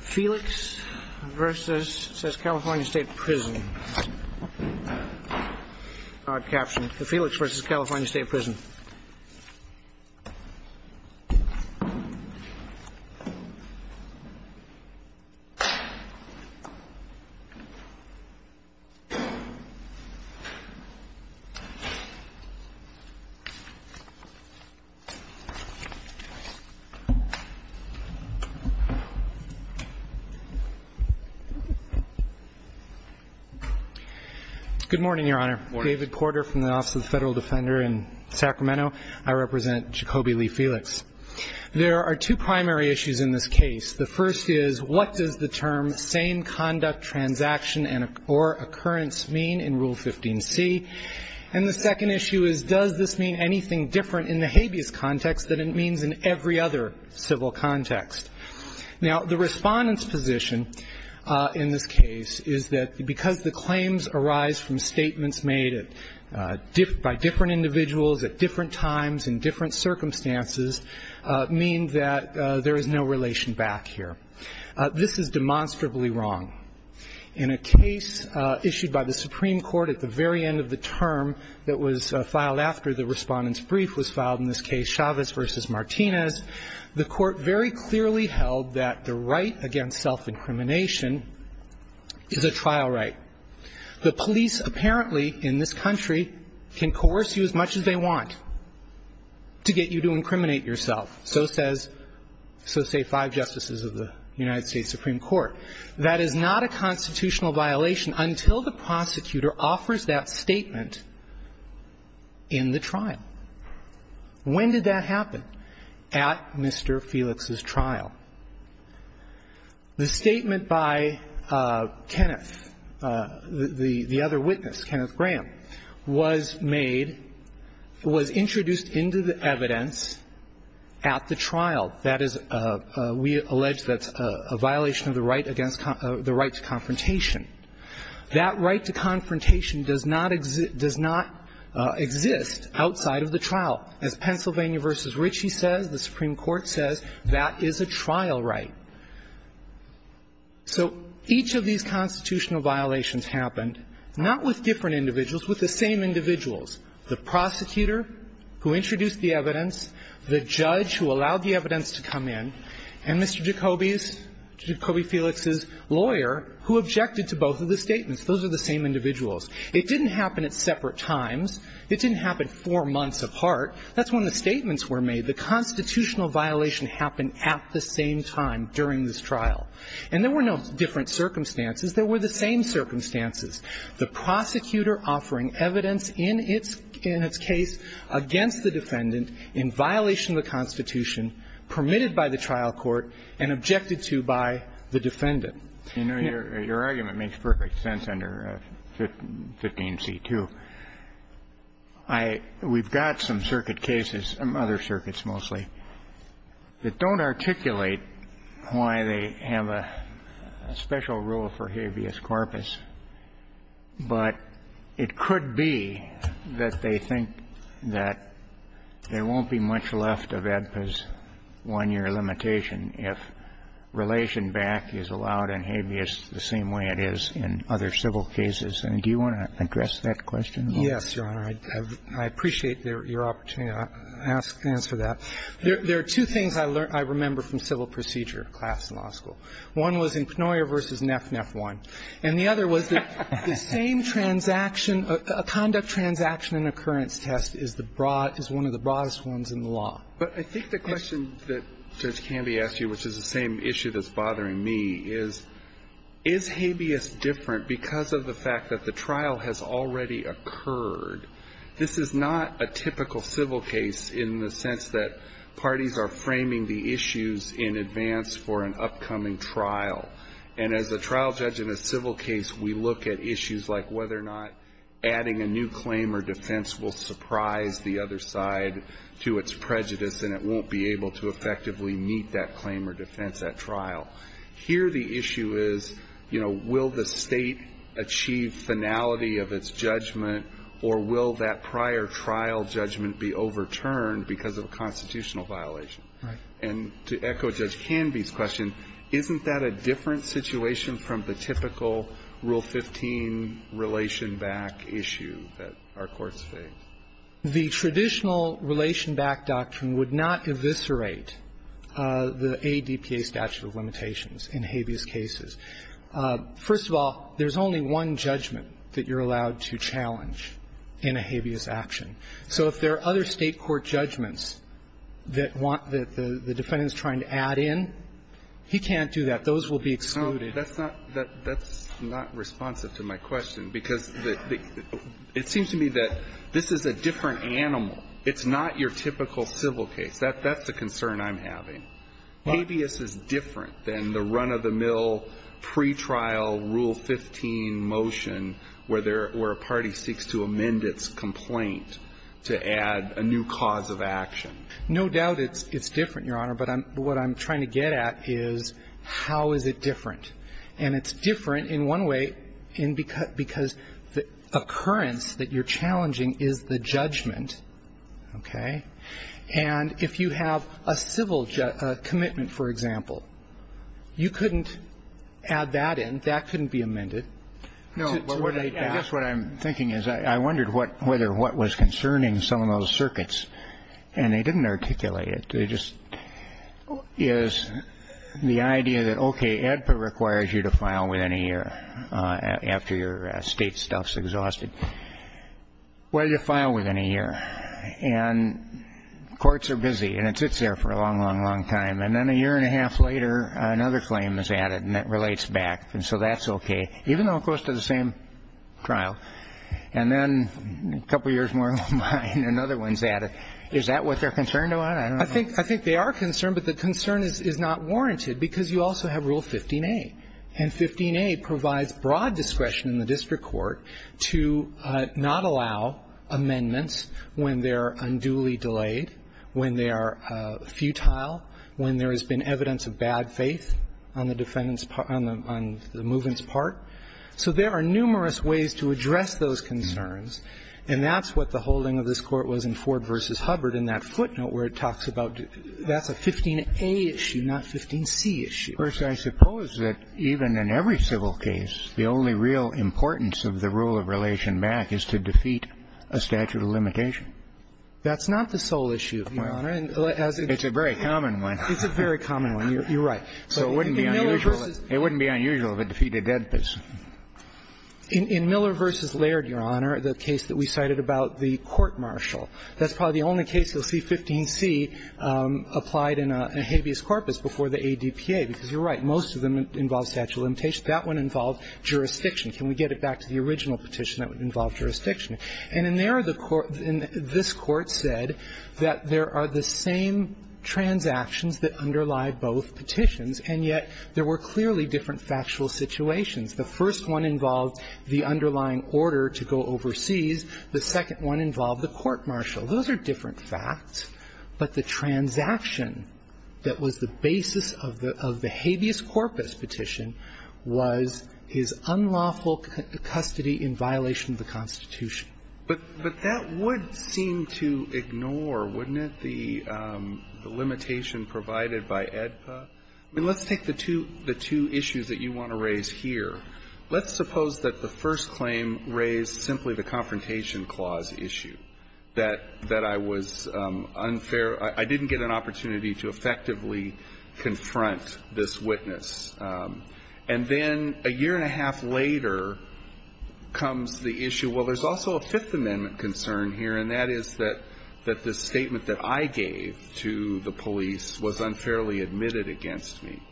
Felix v. California State Prison Good morning, Your Honor. David Porter from the Office of the Federal Defender in Sacramento. I represent Jacoby Lee Felix. There are two primary issues in this case. The first is, what does the term sane conduct transaction or occurrence mean in Rule 15c? And the second issue is, does this mean anything different in the habeas context than it means in every other civil context? Now, the Respondent's position in this case is that because the claims arise from statements made by different individuals at different times and different circumstances mean that there is no relation back here. This is demonstrably wrong. In a case issued by the Supreme Court at the very end of the term that was filed after the Respondent's brief was filed, in this case Chavez v. Martinez, the Court very clearly held that the right against self-incrimination is a trial right. The police apparently in this country can coerce you as much as they want to get you to incriminate yourself. So says so, say, five justices of the United States Supreme Court. That is not a constitutional violation until the prosecutor offers that statement in the trial. When did that happen? At Mr. Felix's trial. The statement by Kenneth, the other witness, Kenneth Graham, was made, was introduced into the evidence at the trial. That is, we allege that's a violation of the right against the right to confrontation. That right to confrontation does not exist outside of the trial. As Pennsylvania v. Ritchie says, the Supreme Court says, that is a trial right. So each of these constitutional violations happened not with different individuals, the prosecutor who introduced the evidence, the judge who allowed the evidence to come in, and Mr. Jacobi's, Jacobi Felix's lawyer who objected to both of the statements. Those are the same individuals. It didn't happen at separate times. It didn't happen four months apart. That's when the statements were made. The constitutional violation happened at the same time during this trial. And there were no different circumstances. There were the same circumstances. The prosecutor offering evidence in its case against the defendant in violation of the Constitution, permitted by the trial court, and objected to by the defendant. You know, your argument makes perfect sense under 15c2. I, we've got some circuit cases, other circuits mostly, that don't articulate why they have a special rule for habeas corpus, but it could be that they think that there won't be much left of AEDPA's one-year limitation if relation back is allowed in habeas the same way it is in other civil cases. And do you want to address that question? Yes, Your Honor. I appreciate your opportunity to answer that. There are two things I remember from civil procedure class in law school. One was in Pnoyer v. Neff Neff 1. And the other was that the same transaction, a conduct transaction and occurrence test is the broad, is one of the broadest ones in the law. But I think the question that Judge Canby asked you, which is the same issue that's bothering me, is, is habeas different because of the fact that the trial has already occurred? This is not a typical civil case in the sense that parties are framing the issues in advance for an upcoming trial. And as a trial judge in a civil case, we look at issues like whether or not adding a new claim or defense will surprise the other side to its prejudice and it won't be able to effectively meet that claim or defense at trial. Here the issue is, you know, will the state achieve finality of its judgment or will that prior trial judgment be overturned because of a constitutional violation? And to echo Judge Canby's question, isn't that a different situation from the typical Rule 15 relation-back issue that our courts face? The traditional relation-back doctrine would not eviscerate the ADPA statute of limitations in habeas cases. First of all, there's only one judgment that you're allowed to challenge in a habeas action. So if there are other State court judgments that want the defendants trying to add in, he can't do that. Those will be excluded. That's not responsive to my question because it seems to me that this is a different animal. It's not your typical civil case. That's the concern I'm having. Habeas is different than the run-of-the-mill pretrial Rule 15 motion where a party seeks to amend its complaint to add a new cause of action. No doubt it's different, Your Honor. But what I'm trying to get at is how is it different. And it's different in one way because the occurrence that you're challenging is the judgment, okay? And if you have a civil commitment, for example, you couldn't add that in. That couldn't be amended. No. I guess what I'm thinking is I wondered whether what was concerning some of those circuits, and they didn't articulate it, is the idea that, okay, ADPA requires you to file within a year after your State stuff's exhausted. Why do you file within a year? And courts are busy, and it sits there for a long, long, long time. And then a year and a half later, another claim is added, and that relates back. And so that's okay, even though it goes to the same trial. And then a couple years more, another one's added. Is that what they're concerned about? I don't know. I think they are concerned, but the concern is not warranted because you also have Rule 15a. And 15a provides broad discretion in the district court to not allow amendments when they are unduly delayed, when they are futile, when there has been evidence of bad faith on the defendant's part of the movement's part. So there are numerous ways to address those concerns. And that's what the holding of this Court was in Ford v. Hubbard in that footnote where it talks about that's a 15a issue, not 15c issue. First, I suppose that even in every civil case, the only real importance of the rule of relation back is to defeat a statute of limitation. That's not the sole issue, Your Honor. It's a very common one. It's a very common one. You're right. So it wouldn't be unusual to defeat a dead person. In Miller v. Laird, Your Honor, the case that we cited about the court-martial, that's probably the only case you'll see 15c applied in a habeas corpus before the ADPA, because you're right, most of them involve statute of limitation. That one involved jurisdiction. Can we get it back to the original petition that would involve jurisdiction? And in there, the court – this Court said that there are the same transactions that underlie both petitions, and yet there were clearly different factual situations. The first one involved the underlying order to go overseas. The second one involved the court-martial. Those are different facts. But the transaction that was the basis of the habeas corpus petition was his unlawful custody in violation of the Constitution. But that would seem to ignore, wouldn't it, the limitation provided by ADPA? I mean, let's take the two issues that you want to raise here. Let's suppose that the first claim raised simply the Confrontation Clause issue, that I was unfair – I didn't get an opportunity to effectively confront this witness. And then a year and a half later comes the issue, well, there's also a Fifth Amendment concern here, and that is that the statement that I gave to the police was unfairly admitted against me.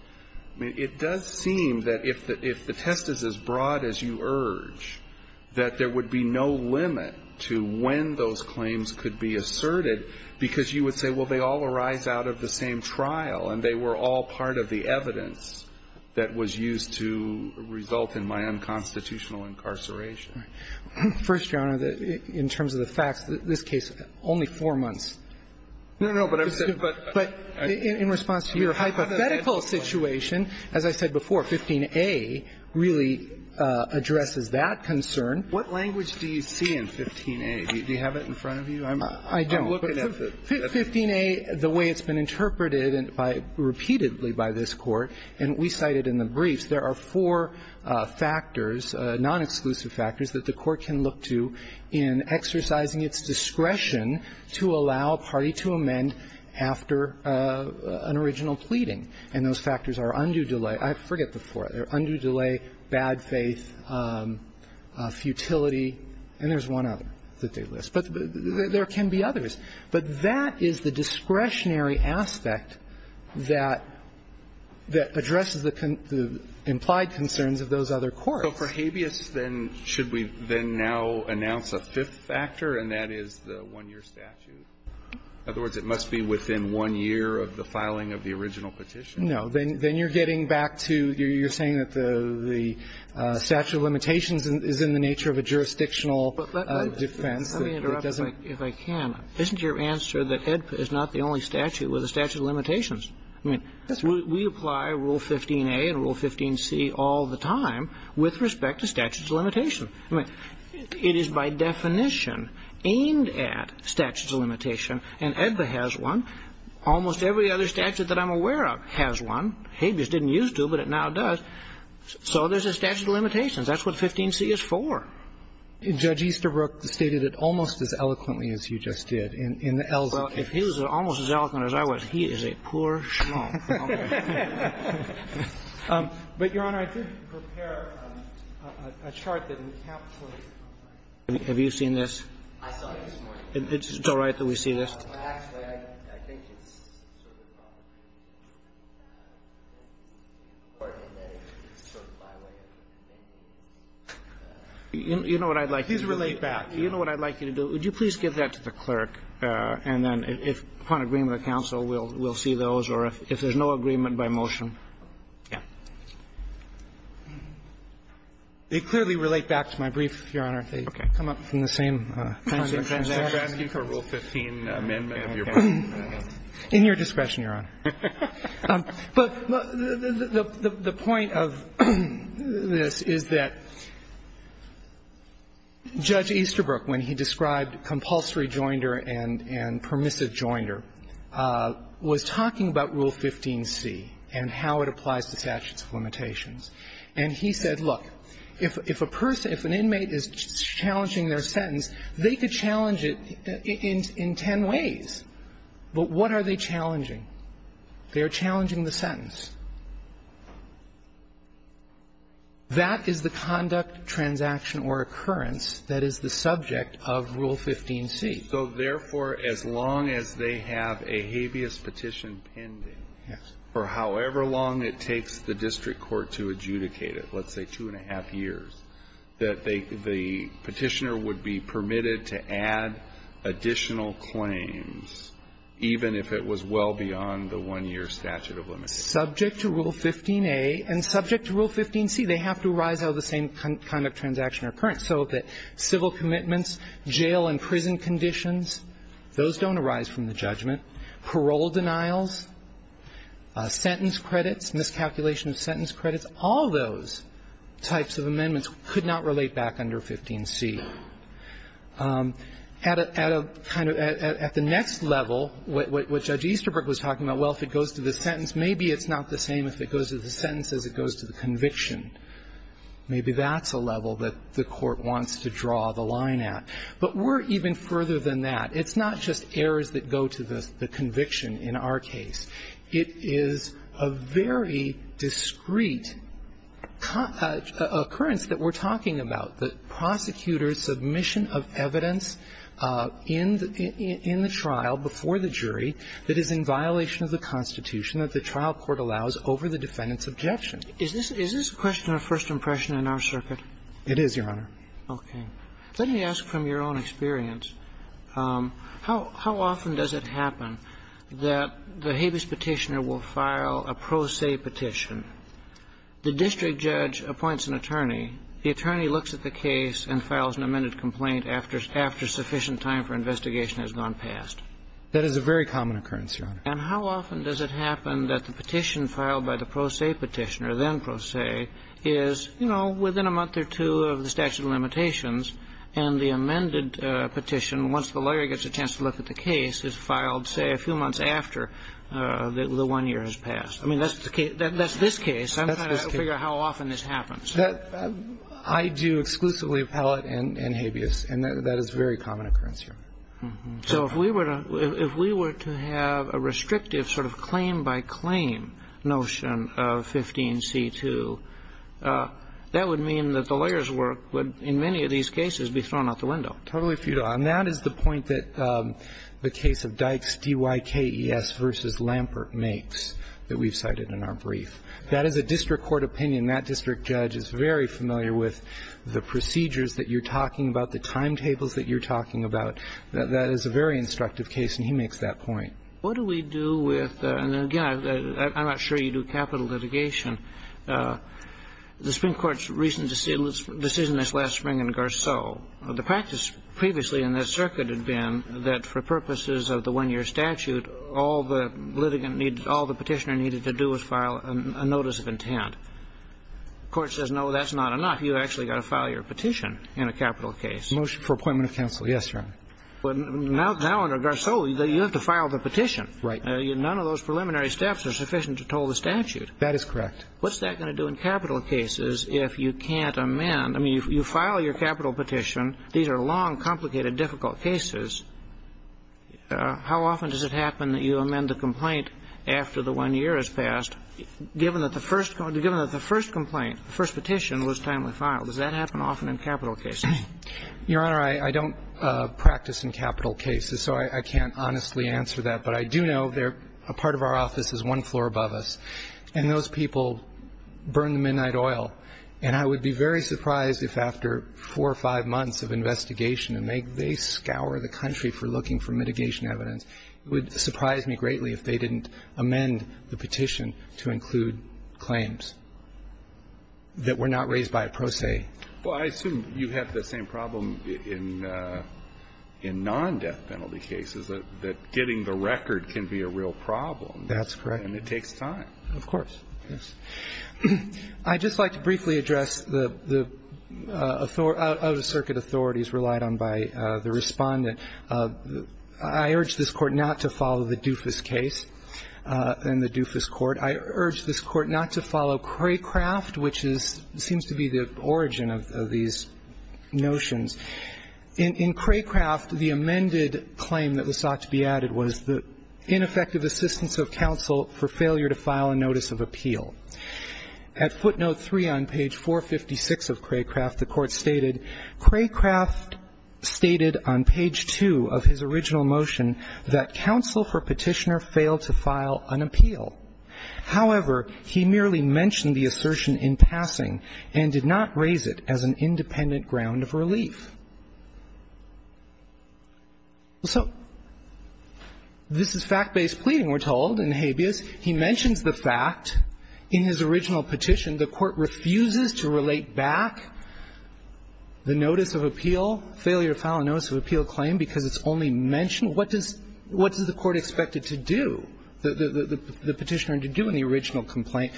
I mean, it does seem that if the test is as broad as you urge, that there would be no limit to when those claims could be asserted, because you would say, well, they all arise out of the same trial, and they were all part of the evidence that was used to result in my unconstitutional incarceration. First, Your Honor, in terms of the facts, this case, only four months. No, no, but I'm saying, but – But in response to your hypothetical situation, as I said before, 15a really addresses that concern. What language do you see in 15a? Do you have it in front of you? I'm looking at the – I don't. But 15a, the way it's been interpreted repeatedly by this Court, and we cited in the briefs, there are four factors, nonexclusive factors, that the Court can look to in exercising its discretion to allow a party to amend after an original pleading. And those factors are undue delay – I forget the four. Undue delay, bad faith, futility, and there's one other that they list. But there can be others. But that is the discretionary aspect that – that addresses the implied concerns of those other courts. But for habeas, then, should we then now announce a fifth factor, and that is the one-year statute? In other words, it must be within one year of the filing of the original petition. No. Then you're getting back to – you're saying that the statute of limitations is in the nature of a jurisdictional defense that doesn't – Let me interrupt, if I can. Isn't your answer that AEDPA is not the only statute with a statute of limitations? I mean, we apply Rule 15a and Rule 15c all the time with respect to statutes of limitation. I mean, it is by definition aimed at statutes of limitation, and AEDPA has one. Almost every other statute that I'm aware of has one. Habeas didn't used to, but it now does. So there's a statute of limitations. That's what 15c is for. Judge Easterbrook stated it almost as eloquently as you just did, in the L's of case. Well, if he was almost as eloquent as I was, he is a poor schmaltz. But, Your Honor, I did prepare a chart that encapsulates – have you seen this? I saw it this morning. It's all right that we see this? Actually, I think it's sort of my way of thinking. You know what I'd like you to do? Please relate back. You know what I'd like you to do? Would you please give that to the clerk, and then if, upon agreement of counsel, we'll see those, or if there's no agreement by motion. Yeah. They clearly relate back to my brief, Your Honor. Okay. They come up from the same time frame. And they're asking for Rule 15 amendment of your brief. In your discretion, Your Honor. But the point of this is that Judge Easterbrook, when he described compulsory joinder and permissive joinder, was talking about Rule 15c and how it applies to statutes of limitations. And he said, look, if a person, if an inmate is challenging their sentence, they could challenge it in ten ways. But what are they challenging? They are challenging the sentence. That is the conduct, transaction, or occurrence that is the subject of Rule 15c. So, therefore, as long as they have a habeas petition pending, for however long it takes the district court to adjudicate it, let's say two and a half years, that the petitioner would be permitted to add additional claims even if it was well beyond the one-year statute of limitations. Subject to Rule 15a and subject to Rule 15c, they have to arise out of the same conduct, transaction, or occurrence. So that civil commitments, jail and prison conditions, those don't arise from the judgment, parole denials, sentence credits, miscalculation of sentence credits, all those types of amendments could not relate back under 15c. At a kind of the next level, what Judge Easterbrook was talking about, well, if it goes to the sentence, maybe it's not the same if it goes to the sentence as it goes to the conviction. Maybe that's a level that the Court wants to draw the line at. But we're even further than that. It's not just errors that go to the conviction in our case. It is a very discreet occurrence that we're talking about, the prosecutor's submission of evidence in the trial before the jury that is in violation of the Constitution that the trial court allows over the defendant's objection. Is this a question of first impression in our circuit? It is, Your Honor. Okay. Let me ask from your own experience, how often does it happen that the habeas Petitioner will file a pro se petition? The district judge appoints an attorney. The attorney looks at the case and files an amended complaint after sufficient time for investigation has gone past. That is a very common occurrence, Your Honor. And how often does it happen that the petition filed by the pro se Petitioner, then pro se, is, you know, within a month or two of the statute of limitations and the amended petition, once the lawyer gets a chance to look at the case, is filed, say, a few months after the one year has passed? I mean, that's the case. That's this case. I'm trying to figure out how often this happens. I do exclusively appellate and habeas, and that is a very common occurrence, Your Honor. So if we were to have a restrictive sort of claim-by-claim notion of 15c2, that would mean that the lawyer's work would, in many of these cases, be thrown out the window. Totally futile. And that is the point that the case of Dykes, D-Y-K-E-S v. Lampert, makes that we've cited in our brief. That is a district court opinion. That district judge is very familiar with the procedures that you're talking about, the timetables that you're talking about. That is a very instructive case, and he makes that point. What do we do with the – and again, I'm not sure you do capital litigation. The Supreme Court's recent decision this last spring in Garceau, the practice previously in this circuit had been that for purposes of the one-year statute, all the litigant needed, all the petitioner needed to do was file a notice of intent. The Court says, no, that's not enough. You've actually got to file your petition in a capital case. Motion for appointment of counsel. Yes, Your Honor. Now under Garceau, you have to file the petition. Right. None of those preliminary steps are sufficient to toll the statute. That is correct. What's that going to do in capital cases if you can't amend? I mean, you file your capital petition. These are long, complicated, difficult cases. How often does it happen that you amend the complaint after the one year has passed, given that the first – given that the first complaint, the first petition was timely Does that happen often in capital cases? Your Honor, I don't practice in capital cases, so I can't honestly answer that. But I do know there – a part of our office is one floor above us, and those people burn the midnight oil. And I would be very surprised if after four or five months of investigation and they scour the country for looking for mitigation evidence, it would surprise me greatly if they didn't amend the petition to include claims that were not raised by a pro se. Well, I assume you have the same problem in non-death penalty cases, that getting the record can be a real problem. That's correct. And it takes time. Of course. Yes. I'd just like to briefly address the out-of-circuit authorities relied on by the Respondent. I urge this Court not to follow the Dufus case in the Dufus Court. I urge this Court not to follow Craycraft, which seems to be the origin of these notions. In Craycraft, the amended claim that was sought to be added was the ineffective assistance of counsel for failure to file a notice of appeal. At footnote 3 on page 456 of Craycraft, the Court stated, Craycraft stated on page 2 of his original motion that counsel for petitioner failed to file an appeal. However, he merely mentioned the assertion in passing and did not raise it as an independent ground of relief. So this is fact-based pleading, we're told, in habeas. He mentions the fact in his original petition. The Court refuses to relate back the notice of appeal, failure to file a notice of appeal claim, because it's only mentioned. What does the Court expect it to do, the petitioner, to do in the original complaint,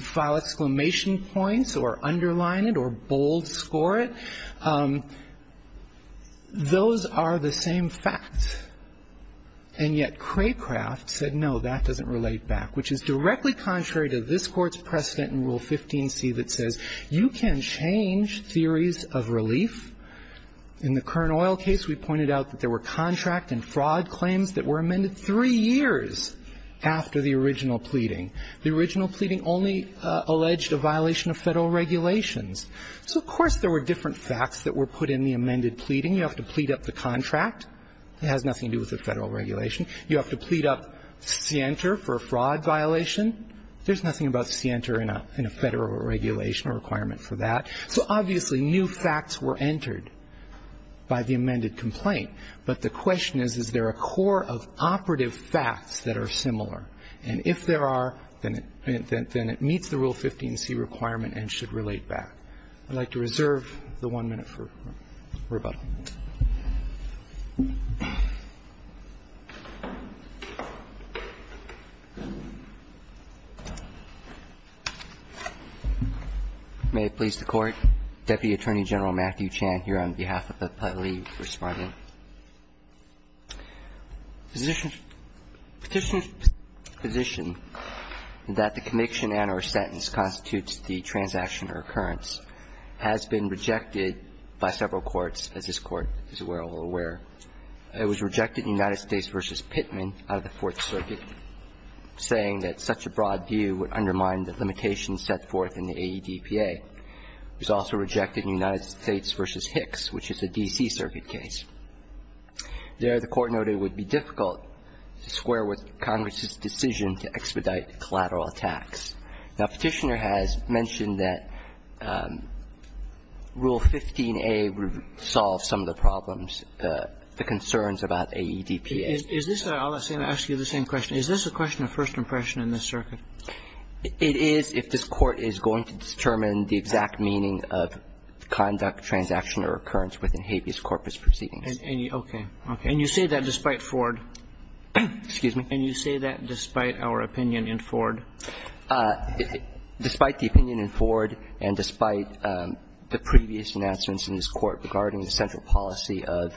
file exclamation points or underline it or bold score it? Those are the same facts. And yet Craycraft said, no, that doesn't relate back, which is directly contrary to this Court's precedent in Rule 15c that says you can change theories of relief. In the Kern Oil case, we pointed out that there were contract and fraud claims that were amended three years after the original pleading. The original pleading only alleged a violation of Federal regulations. So, of course, there were different facts that were put in the amended pleading. You have to plead up the contract. It has nothing to do with the Federal regulation. You have to plead up scienter for a fraud violation. There's nothing about scienter in a Federal regulation or requirement for that. So, obviously, new facts were entered by the amended complaint. But the question is, is there a core of operative facts that are similar? And if there are, then it meets the Rule 15c requirement and should relate back. I'd like to reserve the one minute for rebuttal. May it please the Court. Deputy Attorney General Matthew Chan here on behalf of the public responding. Petitioner's position that the conviction and or sentence constitutes the transaction or occurrence has been rejected by several courts, as this Court is well aware. It was rejected in United States v. Pittman out of the Fourth Circuit, saying that such a broad view would undermine the limitations set forth in the AEDPA. It was also rejected in United States v. Hicks, which is a D.C. Circuit case. There, the Court noted it would be difficult to square with Congress's decision to expedite collateral attacks. Now, Petitioner has mentioned that Rule 15a would solve some of the problems, the concerns about AEDPA. Is this a question of first impression in this circuit? It is if this Court is going to determine the exact meaning of conduct, transaction or occurrence within habeas corpus proceedings. Okay. Okay. And you say that despite Ford? Excuse me? And you say that despite our opinion in Ford? Despite the opinion in Ford and despite the previous announcements in this Court regarding the central policy of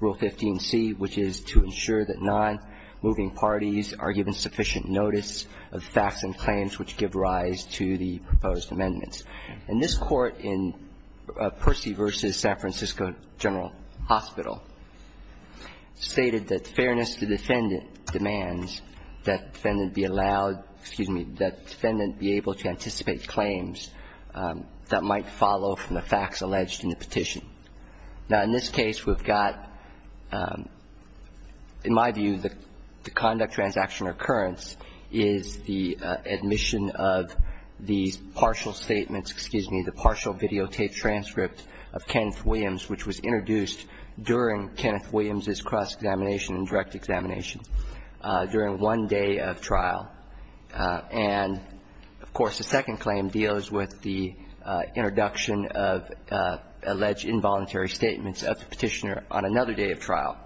Rule 15c, which is to ensure that nonmoving parties are given sufficient notice of facts and claims which give rise to the proposed amendments. And this Court in Percy v. San Francisco General Hospital stated that fairness to defendant demands that defendant be allowed, excuse me, that defendant be able to anticipate claims that might follow from the facts alleged in the petition. Now, in this case, we've got, in my view, the conduct, transaction or occurrence is the admission of these partial statements, excuse me, the partial videotape transcript of Kenneth Williams, which was introduced during Kenneth Williams' cross-examination and direct examination during one day of trial. And, of course, the second claim deals with the introduction of alleged involuntary statements of the petitioner on another day of trial.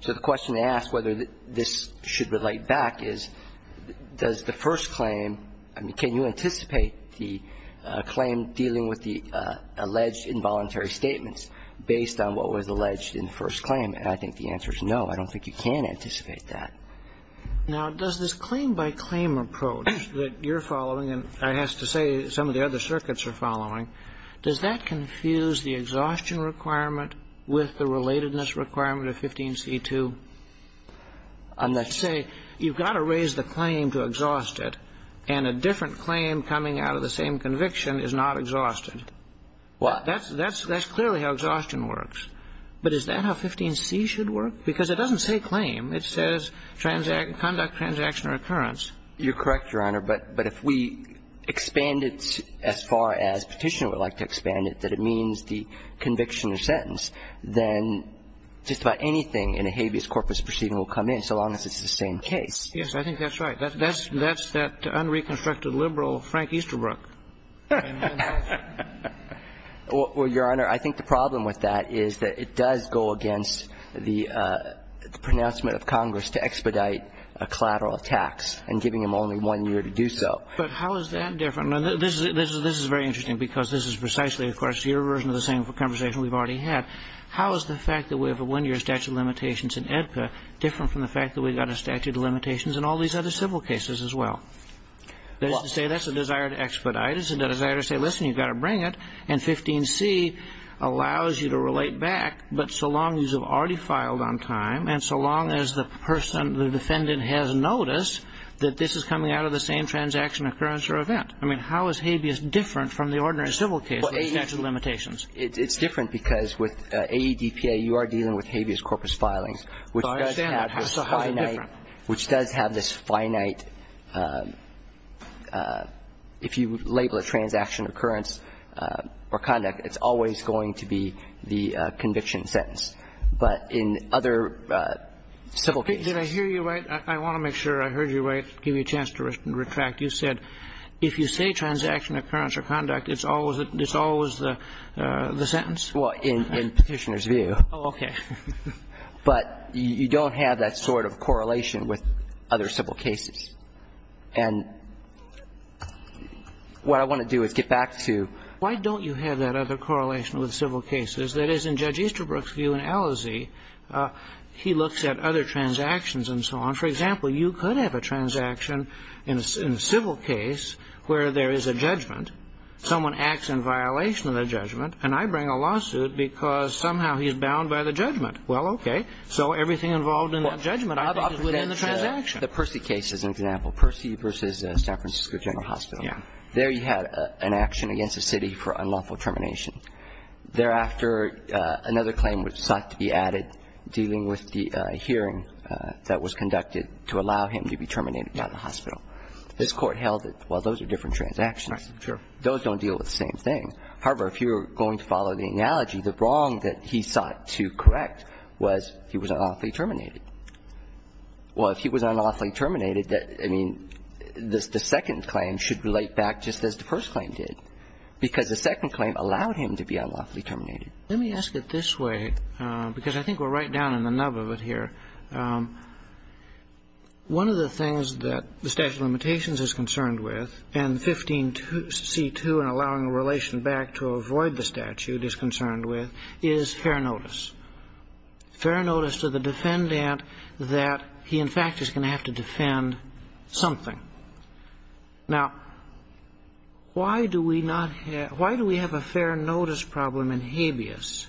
So the question to ask whether this should relate back is, does the first claim – I mean, can you anticipate the claim dealing with the alleged involuntary statements based on what was alleged in the first claim? And I think the answer is no. I don't think you can anticipate that. Now, does this claim-by-claim approach that you're following and, I have to say, some of the other circuits are following, does that confuse the exhaustion requirement with the relatedness requirement of 15c2? I'm not sure. You say you've got to raise the claim to exhaust it, and a different claim coming out of the same conviction is not exhausted. Well, that's true. That's clearly how exhaustion works. But is that how 15c should work? Because it doesn't say claim. It says conduct transaction or occurrence. You're correct, Your Honor. But if we expand it as far as petitioner would like to expand it, that it means the conviction or sentence, then just about anything in a habeas corpus proceeding will come in so long as it's the same case. Yes, I think that's right. That's that unreconstructed liberal Frank Easterbrook. Well, Your Honor, I think the problem with that is that it does go against the pronouncement of Congress to expedite a collateral tax and giving them only one year to do so. But how is that different? Now, this is very interesting because this is precisely, of course, your version of the same conversation we've already had. How is the fact that we have a one-year statute of limitations in AEDPA different from the fact that we've got a statute of limitations in all these other civil cases That is to say, that's a desire to expedite. It's a desire to say, listen, you've got to bring it. And 15C allows you to relate back. But so long as you've already filed on time and so long as the person, the defendant has noticed that this is coming out of the same transaction, occurrence, or event. I mean, how is habeas different from the ordinary civil case statute of limitations? It's different because with AEDPA, you are dealing with habeas corpus filings, which does have this finite, which does have this finite, if you label a transaction, occurrence, or conduct, it's always going to be the conviction sentence. But in other civil cases. Did I hear you right? I want to make sure I heard you right, give you a chance to retract. You said if you say transaction, occurrence, or conduct, it's always the sentence? Well, in Petitioner's view. Oh, okay. But you don't have that sort of correlation with other civil cases. And what I want to do is get back to, why don't you have that other correlation with civil cases? That is, in Judge Easterbrook's view in Ellazee, he looks at other transactions and so on. For example, you could have a transaction in a civil case where there is a judgment. Someone acts in violation of the judgment, and I bring a lawsuit because somehow he is bound by the judgment. Well, okay. So everything involved in that judgment is within the transaction. The Percy case is an example. Percy v. San Francisco General Hospital. There you had an action against a city for unlawful termination. Thereafter, another claim was sought to be added dealing with the hearing that was conducted to allow him to be terminated by the hospital. This Court held that, well, those are different transactions. Sure. Those don't deal with the same thing. However, if you were going to follow the analogy, the wrong that he sought to correct was he was unlawfully terminated. Well, if he was unlawfully terminated, I mean, the second claim should relate back just as the first claim did, because the second claim allowed him to be unlawfully terminated. Let me ask it this way, because I think we're right down in the nub of it here. One of the things that the statute of limitations is concerned with, and 15c2 and 16b to avoid the statute is concerned with, is fair notice, fair notice to the defendant that he, in fact, is going to have to defend something. Now, why do we not have why do we have a fair notice problem in habeas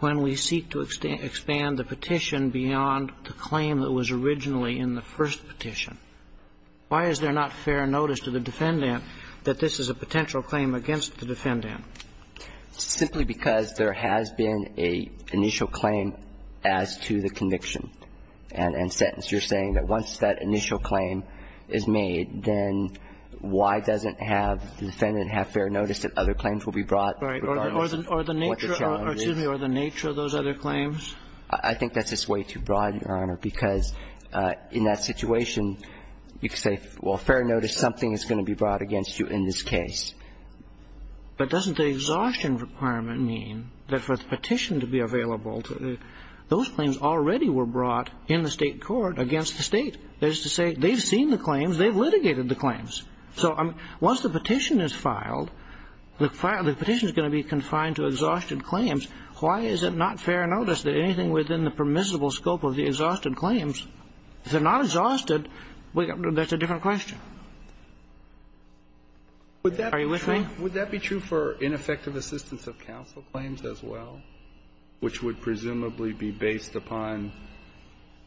when we seek to expand the petition beyond the claim that was originally in the first petition? Why is there not fair notice to the defendant that this is a potential claim against the defendant? Simply because there has been an initial claim as to the conviction and sentence. You're saying that once that initial claim is made, then why doesn't have the defendant have fair notice that other claims will be brought regarding what the challenge is? Or the nature of those other claims? I think that's just way too broad, Your Honor, because in that situation, you could say, well, fair notice, something is going to be brought against you in this case. But doesn't the exhaustion requirement mean that for the petition to be available to the those claims already were brought in the State court against the State? That is to say, they've seen the claims, they've litigated the claims. So once the petition is filed, the petition is going to be confined to exhaustion claims. Why is it not fair notice that anything within the permissible scope of the exhausted claims, if they're not exhausted, that's a different question. Are you with me? Would that be true for ineffective assistance of counsel claims as well, which would presumably be based upon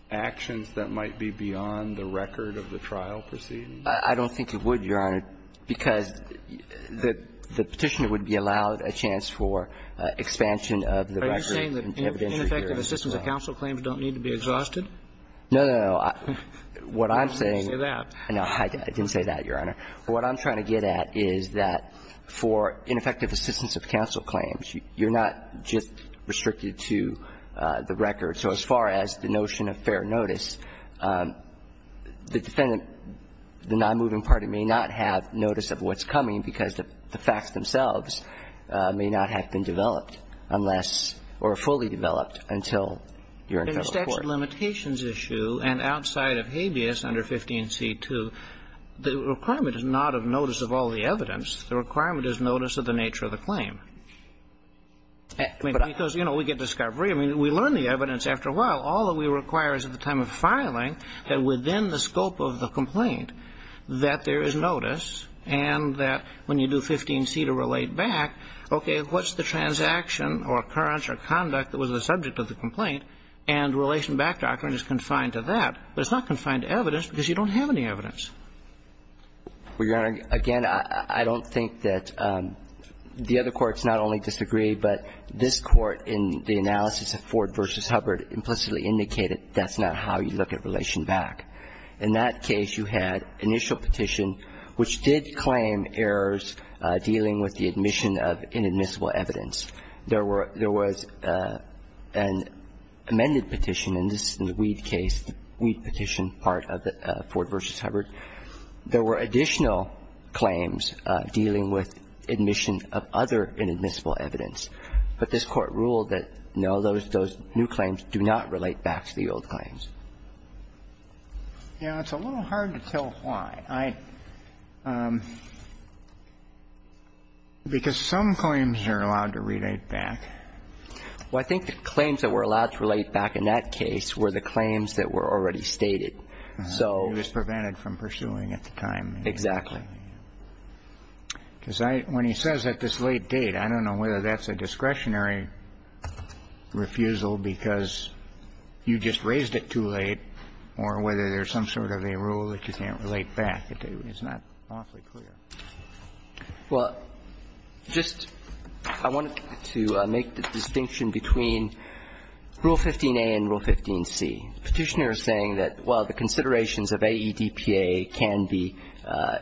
actions that might be beyond the record of the trial proceedings? I don't think it would, Your Honor, because the petitioner would be allowed a chance for expansion of the record. Are you saying that ineffective assistance of counsel claims don't need to be exhausted? No, no, no. What I'm saying is that no, I didn't say that, Your Honor. What I'm trying to get at is that for ineffective assistance of counsel claims, you're not just restricted to the record. So as far as the notion of fair notice, the defendant, the nonmoving party may not have notice of what's coming because the facts themselves may not have been developed unless or fully developed until you're in federal court. In the statute of limitations issue and outside of habeas under 15c2, the requirement is not of notice of all the evidence. The requirement is notice of the nature of the claim. I mean, because, you know, we get discovery. I mean, we learn the evidence after a while. All that we require is at the time of filing that within the scope of the complaint that there is notice and that when you do 15c to relate back, okay, what's the transaction or occurrence or conduct that was the subject of the complaint, and the relation back doctrine is confined to that. But it's not confined to evidence because you don't have any evidence. Well, Your Honor, again, I don't think that the other courts not only disagree, but this Court in the analysis of Ford v. Hubbard implicitly indicated that's not how you look at relation back. In that case, you had initial petition which did claim errors dealing with the admission of inadmissible evidence. There were – there was an amended petition, and this is in the Weed case, the Weed petition part of the Ford v. Hubbard. There were additional claims dealing with admission of other inadmissible evidence. But this Court ruled that, no, those new claims do not relate back to the old claims. Yeah, it's a little hard to tell why. I – because some claims are allowed to relate back. Well, I think the claims that were allowed to relate back in that case were the claims that were already stated. So – It was prevented from pursuing at the time. Exactly. Because I – when he says at this late date, I don't know whether that's a discretionary refusal because you just raised it too late or whether there's some sort of a rule that you can't relate back. It's not awfully clear. Well, just – I wanted to make the distinction between Rule 15a and Rule 15c. The Petitioner is saying that, well, the considerations of AEDPA can be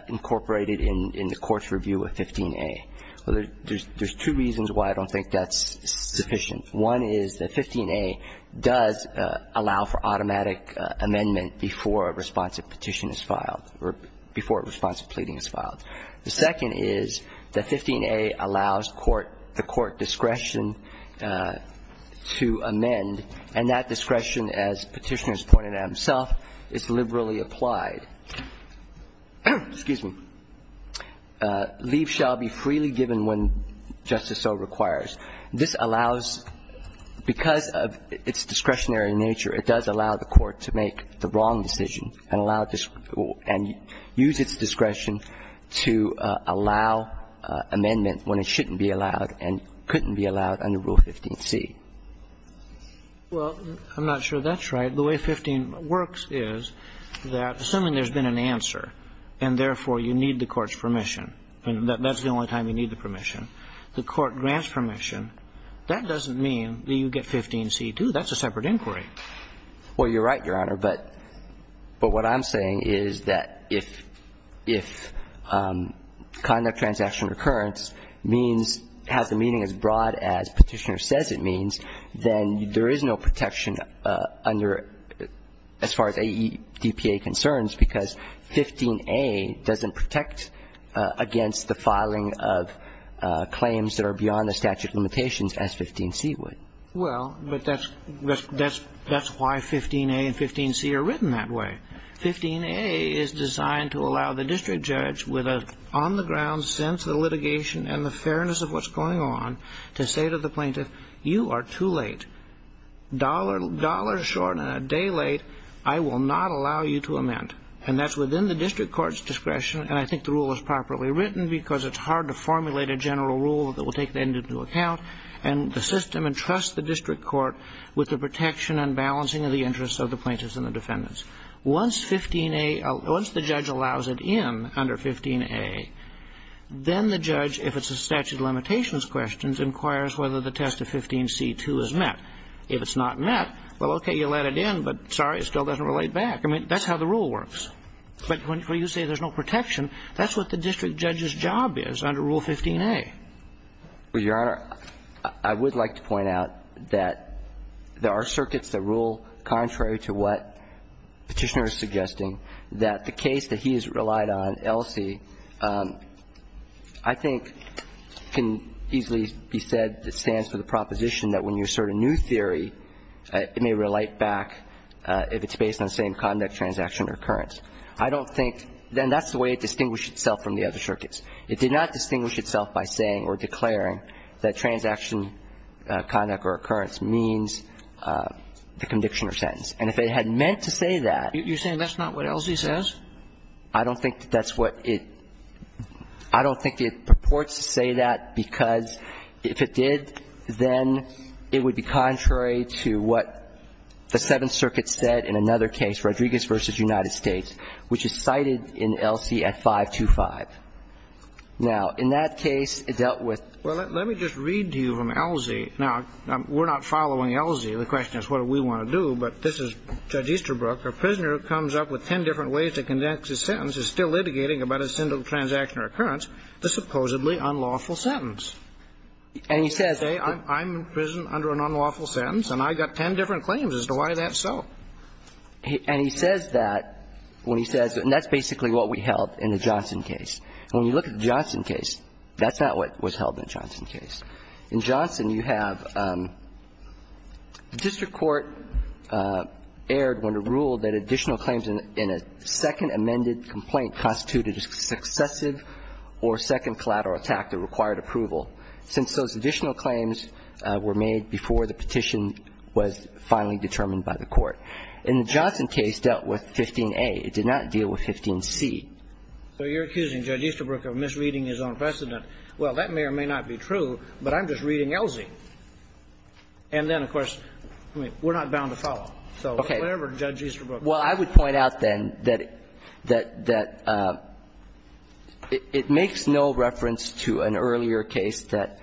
incorporated in the court's review of 15a. Well, there's two reasons why I don't think that's sufficient. One is that 15a does allow for automatic amendment before a response of petition is filed or before a response of pleading is filed. The second is that 15a allows court – the court discretion to amend. And that discretion, as Petitioner has pointed out himself, is liberally applied. Excuse me. Leave shall be freely given when justice so requires. This allows – because of its discretionary nature, it does allow the court to make the wrong decision and allow – and use its discretion to allow amendment when it shouldn't be allowed and couldn't be allowed under Rule 15c. Well, I'm not sure that's right. The way 15 works is that, assuming there's been an answer and, therefore, you need the court's permission, and that's the only time you need the permission, the court grants permission, that doesn't mean that you get 15c too. That's a separate inquiry. Well, you're right, Your Honor. But what I'm saying is that if conduct transaction recurrence means – has a meaning as broad as Petitioner says it means, then there is no protection under – as far as AEDPA concerns, because 15a doesn't protect against the filing of claims that are beyond the statute of limitations as 15c would. Well, but that's – that's why 15a and 15c are written that way. 15a is designed to allow the district judge with an on-the-ground sense of the litigation and the fairness of what's going on to say to the plaintiff, you are too late. Dollars short and a day late, I will not allow you to amend. And that's within the district court's discretion, and I think the rule is properly written because it's hard to formulate a general rule that will take that into account and the system and trust the district court with the protection and balancing of the interests of the plaintiffs and the defendants. Once 15a – once the judge allows it in under 15a, then the judge, if it's a statute of limitations questions, inquires whether the test of 15c2 is met. If it's not met, well, okay, you let it in, but sorry, it still doesn't relate back. I mean, that's how the rule works. But when you say there's no protection, that's what the district judge's job is under Rule 15a. Well, Your Honor, I would like to point out that there are circuits that rule contrary to what Petitioner is suggesting, that the case that he has relied on, LC, I think can easily be said that stands for the proposition that when you assert a new theory, it may relate back if it's based on the same conduct, transaction, or occurrence. I don't think – and that's the way it distinguished itself from the other circuits. It did not distinguish itself by saying or declaring that transaction, conduct, or occurrence means the conviction or sentence. And if it had meant to say that – You're saying that's not what LC says? I don't think that that's what it – I don't think it purports to say that because if it did, then it would be contrary to what the Seventh Circuit said in another case, Rodriguez v. United States, which is cited in LC at 525. Now, in that case, it dealt with – Well, let me just read to you from LC. Now, we're not following LC. The question is what do we want to do. But this is Judge Easterbrook. A prisoner who comes up with ten different ways to conduct his sentence is still litigating about a single transaction or occurrence, the supposedly unlawful sentence. And he says – Say I'm in prison under an unlawful sentence, and I've got ten different claims as to why that's so. And he says that when he says – and that's basically what we held in the Johnson case. When you look at the Johnson case, that's not what was held in the Johnson case. In Johnson, you have the district court erred when it ruled that additional claims in a second amended complaint constituted a successive or second collateral attack that required approval, since those additional claims were made before the petition was finally determined by the court. In the Johnson case, it dealt with 15a. It did not deal with 15c. So you're accusing Judge Easterbrook of misreading his own precedent. Well, that may or may not be true, but I'm just reading Elsie. And then, of course, we're not bound to follow. So whatever Judge Easterbrook says. Well, I would point out, then, that it makes no reference to an earlier case that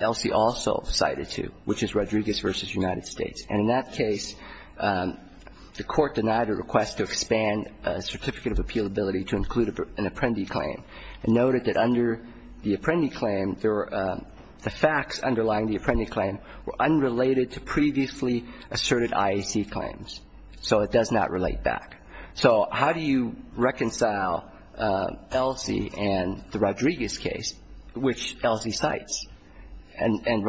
Elsie also cited to, which is Rodriguez v. United States. And in that case, the Court denied a request to expand a certificate of appealability to include an apprendi claim and noted that under the apprendi claim, the facts underlying the apprendi claim were unrelated to previously asserted IAC claims. So it does not relate back. So how do you reconcile Elsie and the Rodriguez case, which Elsie cites? And in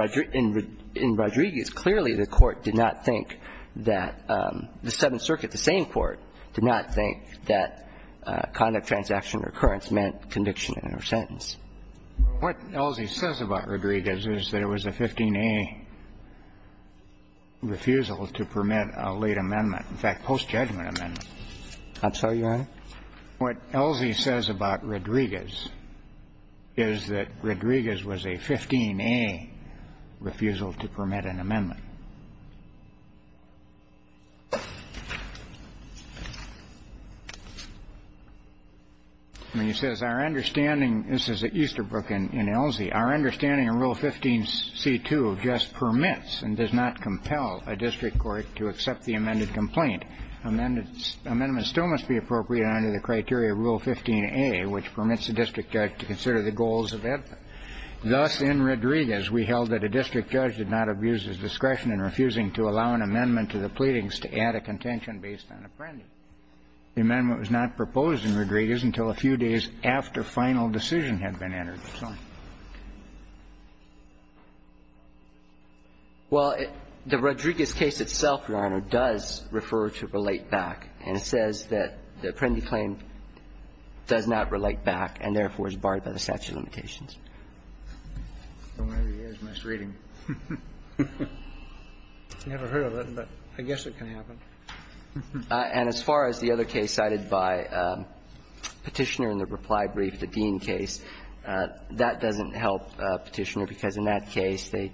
Rodriguez, clearly, the Court did not think that the Seventh Circuit, the same Court, did not think that conduct transaction recurrence meant conviction in a sentence. What Elsie says about Rodriguez is that it was a 15a refusal to permit a late amendment. In fact, post-judgment amendment. I'm sorry, Your Honor? What Elsie says about Rodriguez is that Rodriguez was a 15a refusal to permit an amendment. And he says, our understanding, this is at Easterbrook in Elsie, our understanding of Rule 15c2 just permits and does not compel a district court to accept the amended complaint. Amendments still must be appropriate under the criteria of Rule 15a, which permits the district judge to consider the goals of that. Thus, in Rodriguez, we held that a district judge did not abuse his discretion in refusing to allow an amendment to the pleadings to add a contention based on Apprendi. The amendment was not proposed in Rodriguez until a few days after final decision had been entered. Well, the Rodriguez case itself, Your Honor, does refer to relate back. And it says that the Apprendi claim does not relate back and, therefore, is barred by the statute of limitations. I guess it can happen. And as far as the other case cited by Petitioner in the reply brief, the Dean case, that doesn't help Petitioner, because in that case, the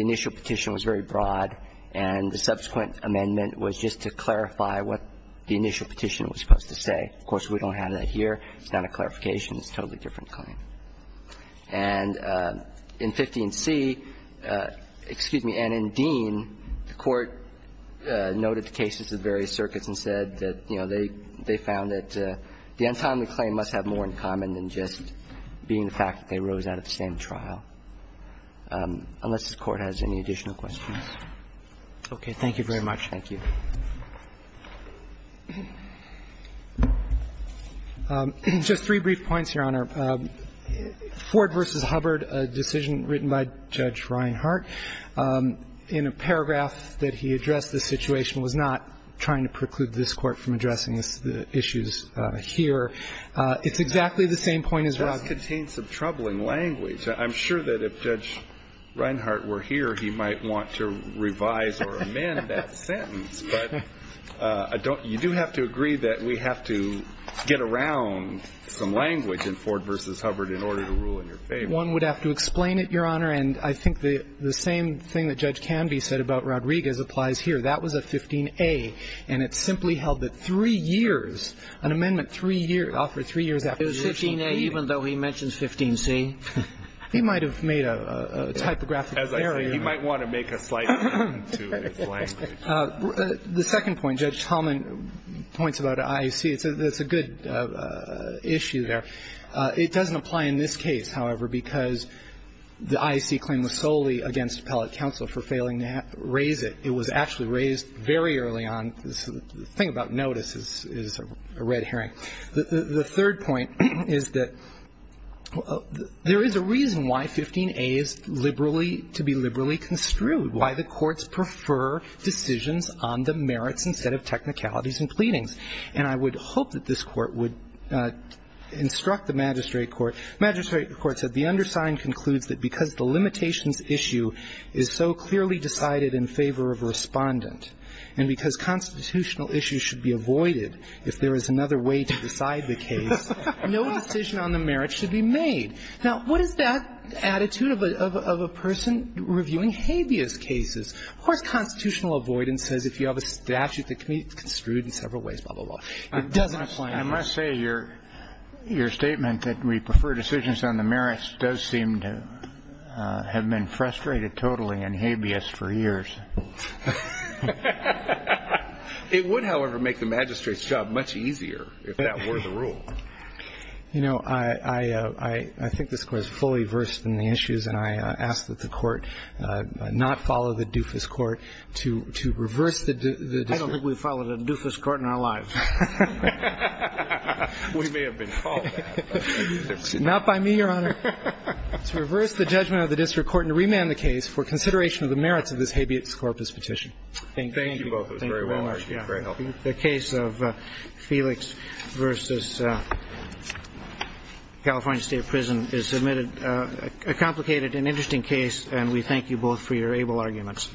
initial petition was very broad, and the subsequent amendment was just to clarify what the initial petition was supposed to say. Of course, we don't have that here. It's not a clarification. It's a totally different claim. And in 15c, excuse me, and in Dean, the Court noted the cases of various circuits and said that, you know, they found that the untimely claim must have more in common than just being the fact that they rose out of the same trial, unless the Court has any additional questions. Roberts. Thank you very much. Thank you. Just three brief points, Your Honor. Ford v. Hubbard, a decision written by Judge Reinhart, in a paragraph that he addressed the situation, was not trying to preclude this Court from addressing the issues here. It's exactly the same point as Roberts. It does contain some troubling language. I'm sure that if Judge Reinhart were here, he might want to revise or amend that sentence, but you do have to agree that we have to get around some language in Ford v. Hubbard in order to rule in your favor. One would have to explain it, Your Honor, and I think the same thing that Judge Canby said about Rodriguez applies here. That was a 15a, and it simply held that three years, an amendment offered three years after the original 15a. 15a, even though he mentions 15c? He might have made a typographical error. As I say, he might want to make a slight amendment to his language. The second point, Judge Tallman points about IAC. It's a good issue there. It doesn't apply in this case, however, because the IAC claim was solely against appellate counsel for failing to raise it. It was actually raised very early on. The thing about notice is a red herring. The third point is that there is a reason why 15a is liberally to be liberally construed, why the courts prefer decisions on the merits instead of technicalities and pleadings. And I would hope that this Court would instruct the magistrate court. The magistrate court said, The undersigned concludes that because the limitations issue is so clearly decided in favor of a respondent, and because constitutional issues should be avoided if there is another way to decide the case, no decision on the merits should be made. Now, what is that attitude of a person reviewing habeas cases? Of course, constitutional avoidance says if you have a statute that can be construed in several ways, blah, blah, blah. It doesn't apply here. I must say your statement that we prefer decisions on the merits does seem to have been frustrated totally and habeas for years. It would, however, make the magistrate's job much easier if that were the rule. You know, I think this Court is fully versed in the issues, and I ask that the Court not follow the doofus court to reverse the district. I don't think we've followed a doofus court in our lives. We may have been called that. Not by me, Your Honor. To reverse the judgment of the district court and to remand the case for consideration of the merits of this habeas corpus petition. Thank you. Thank you both. It was very well argued. Very helpful. The case of Felix v. California State Prison is a complicated and interesting case, and we thank you both for your able arguments.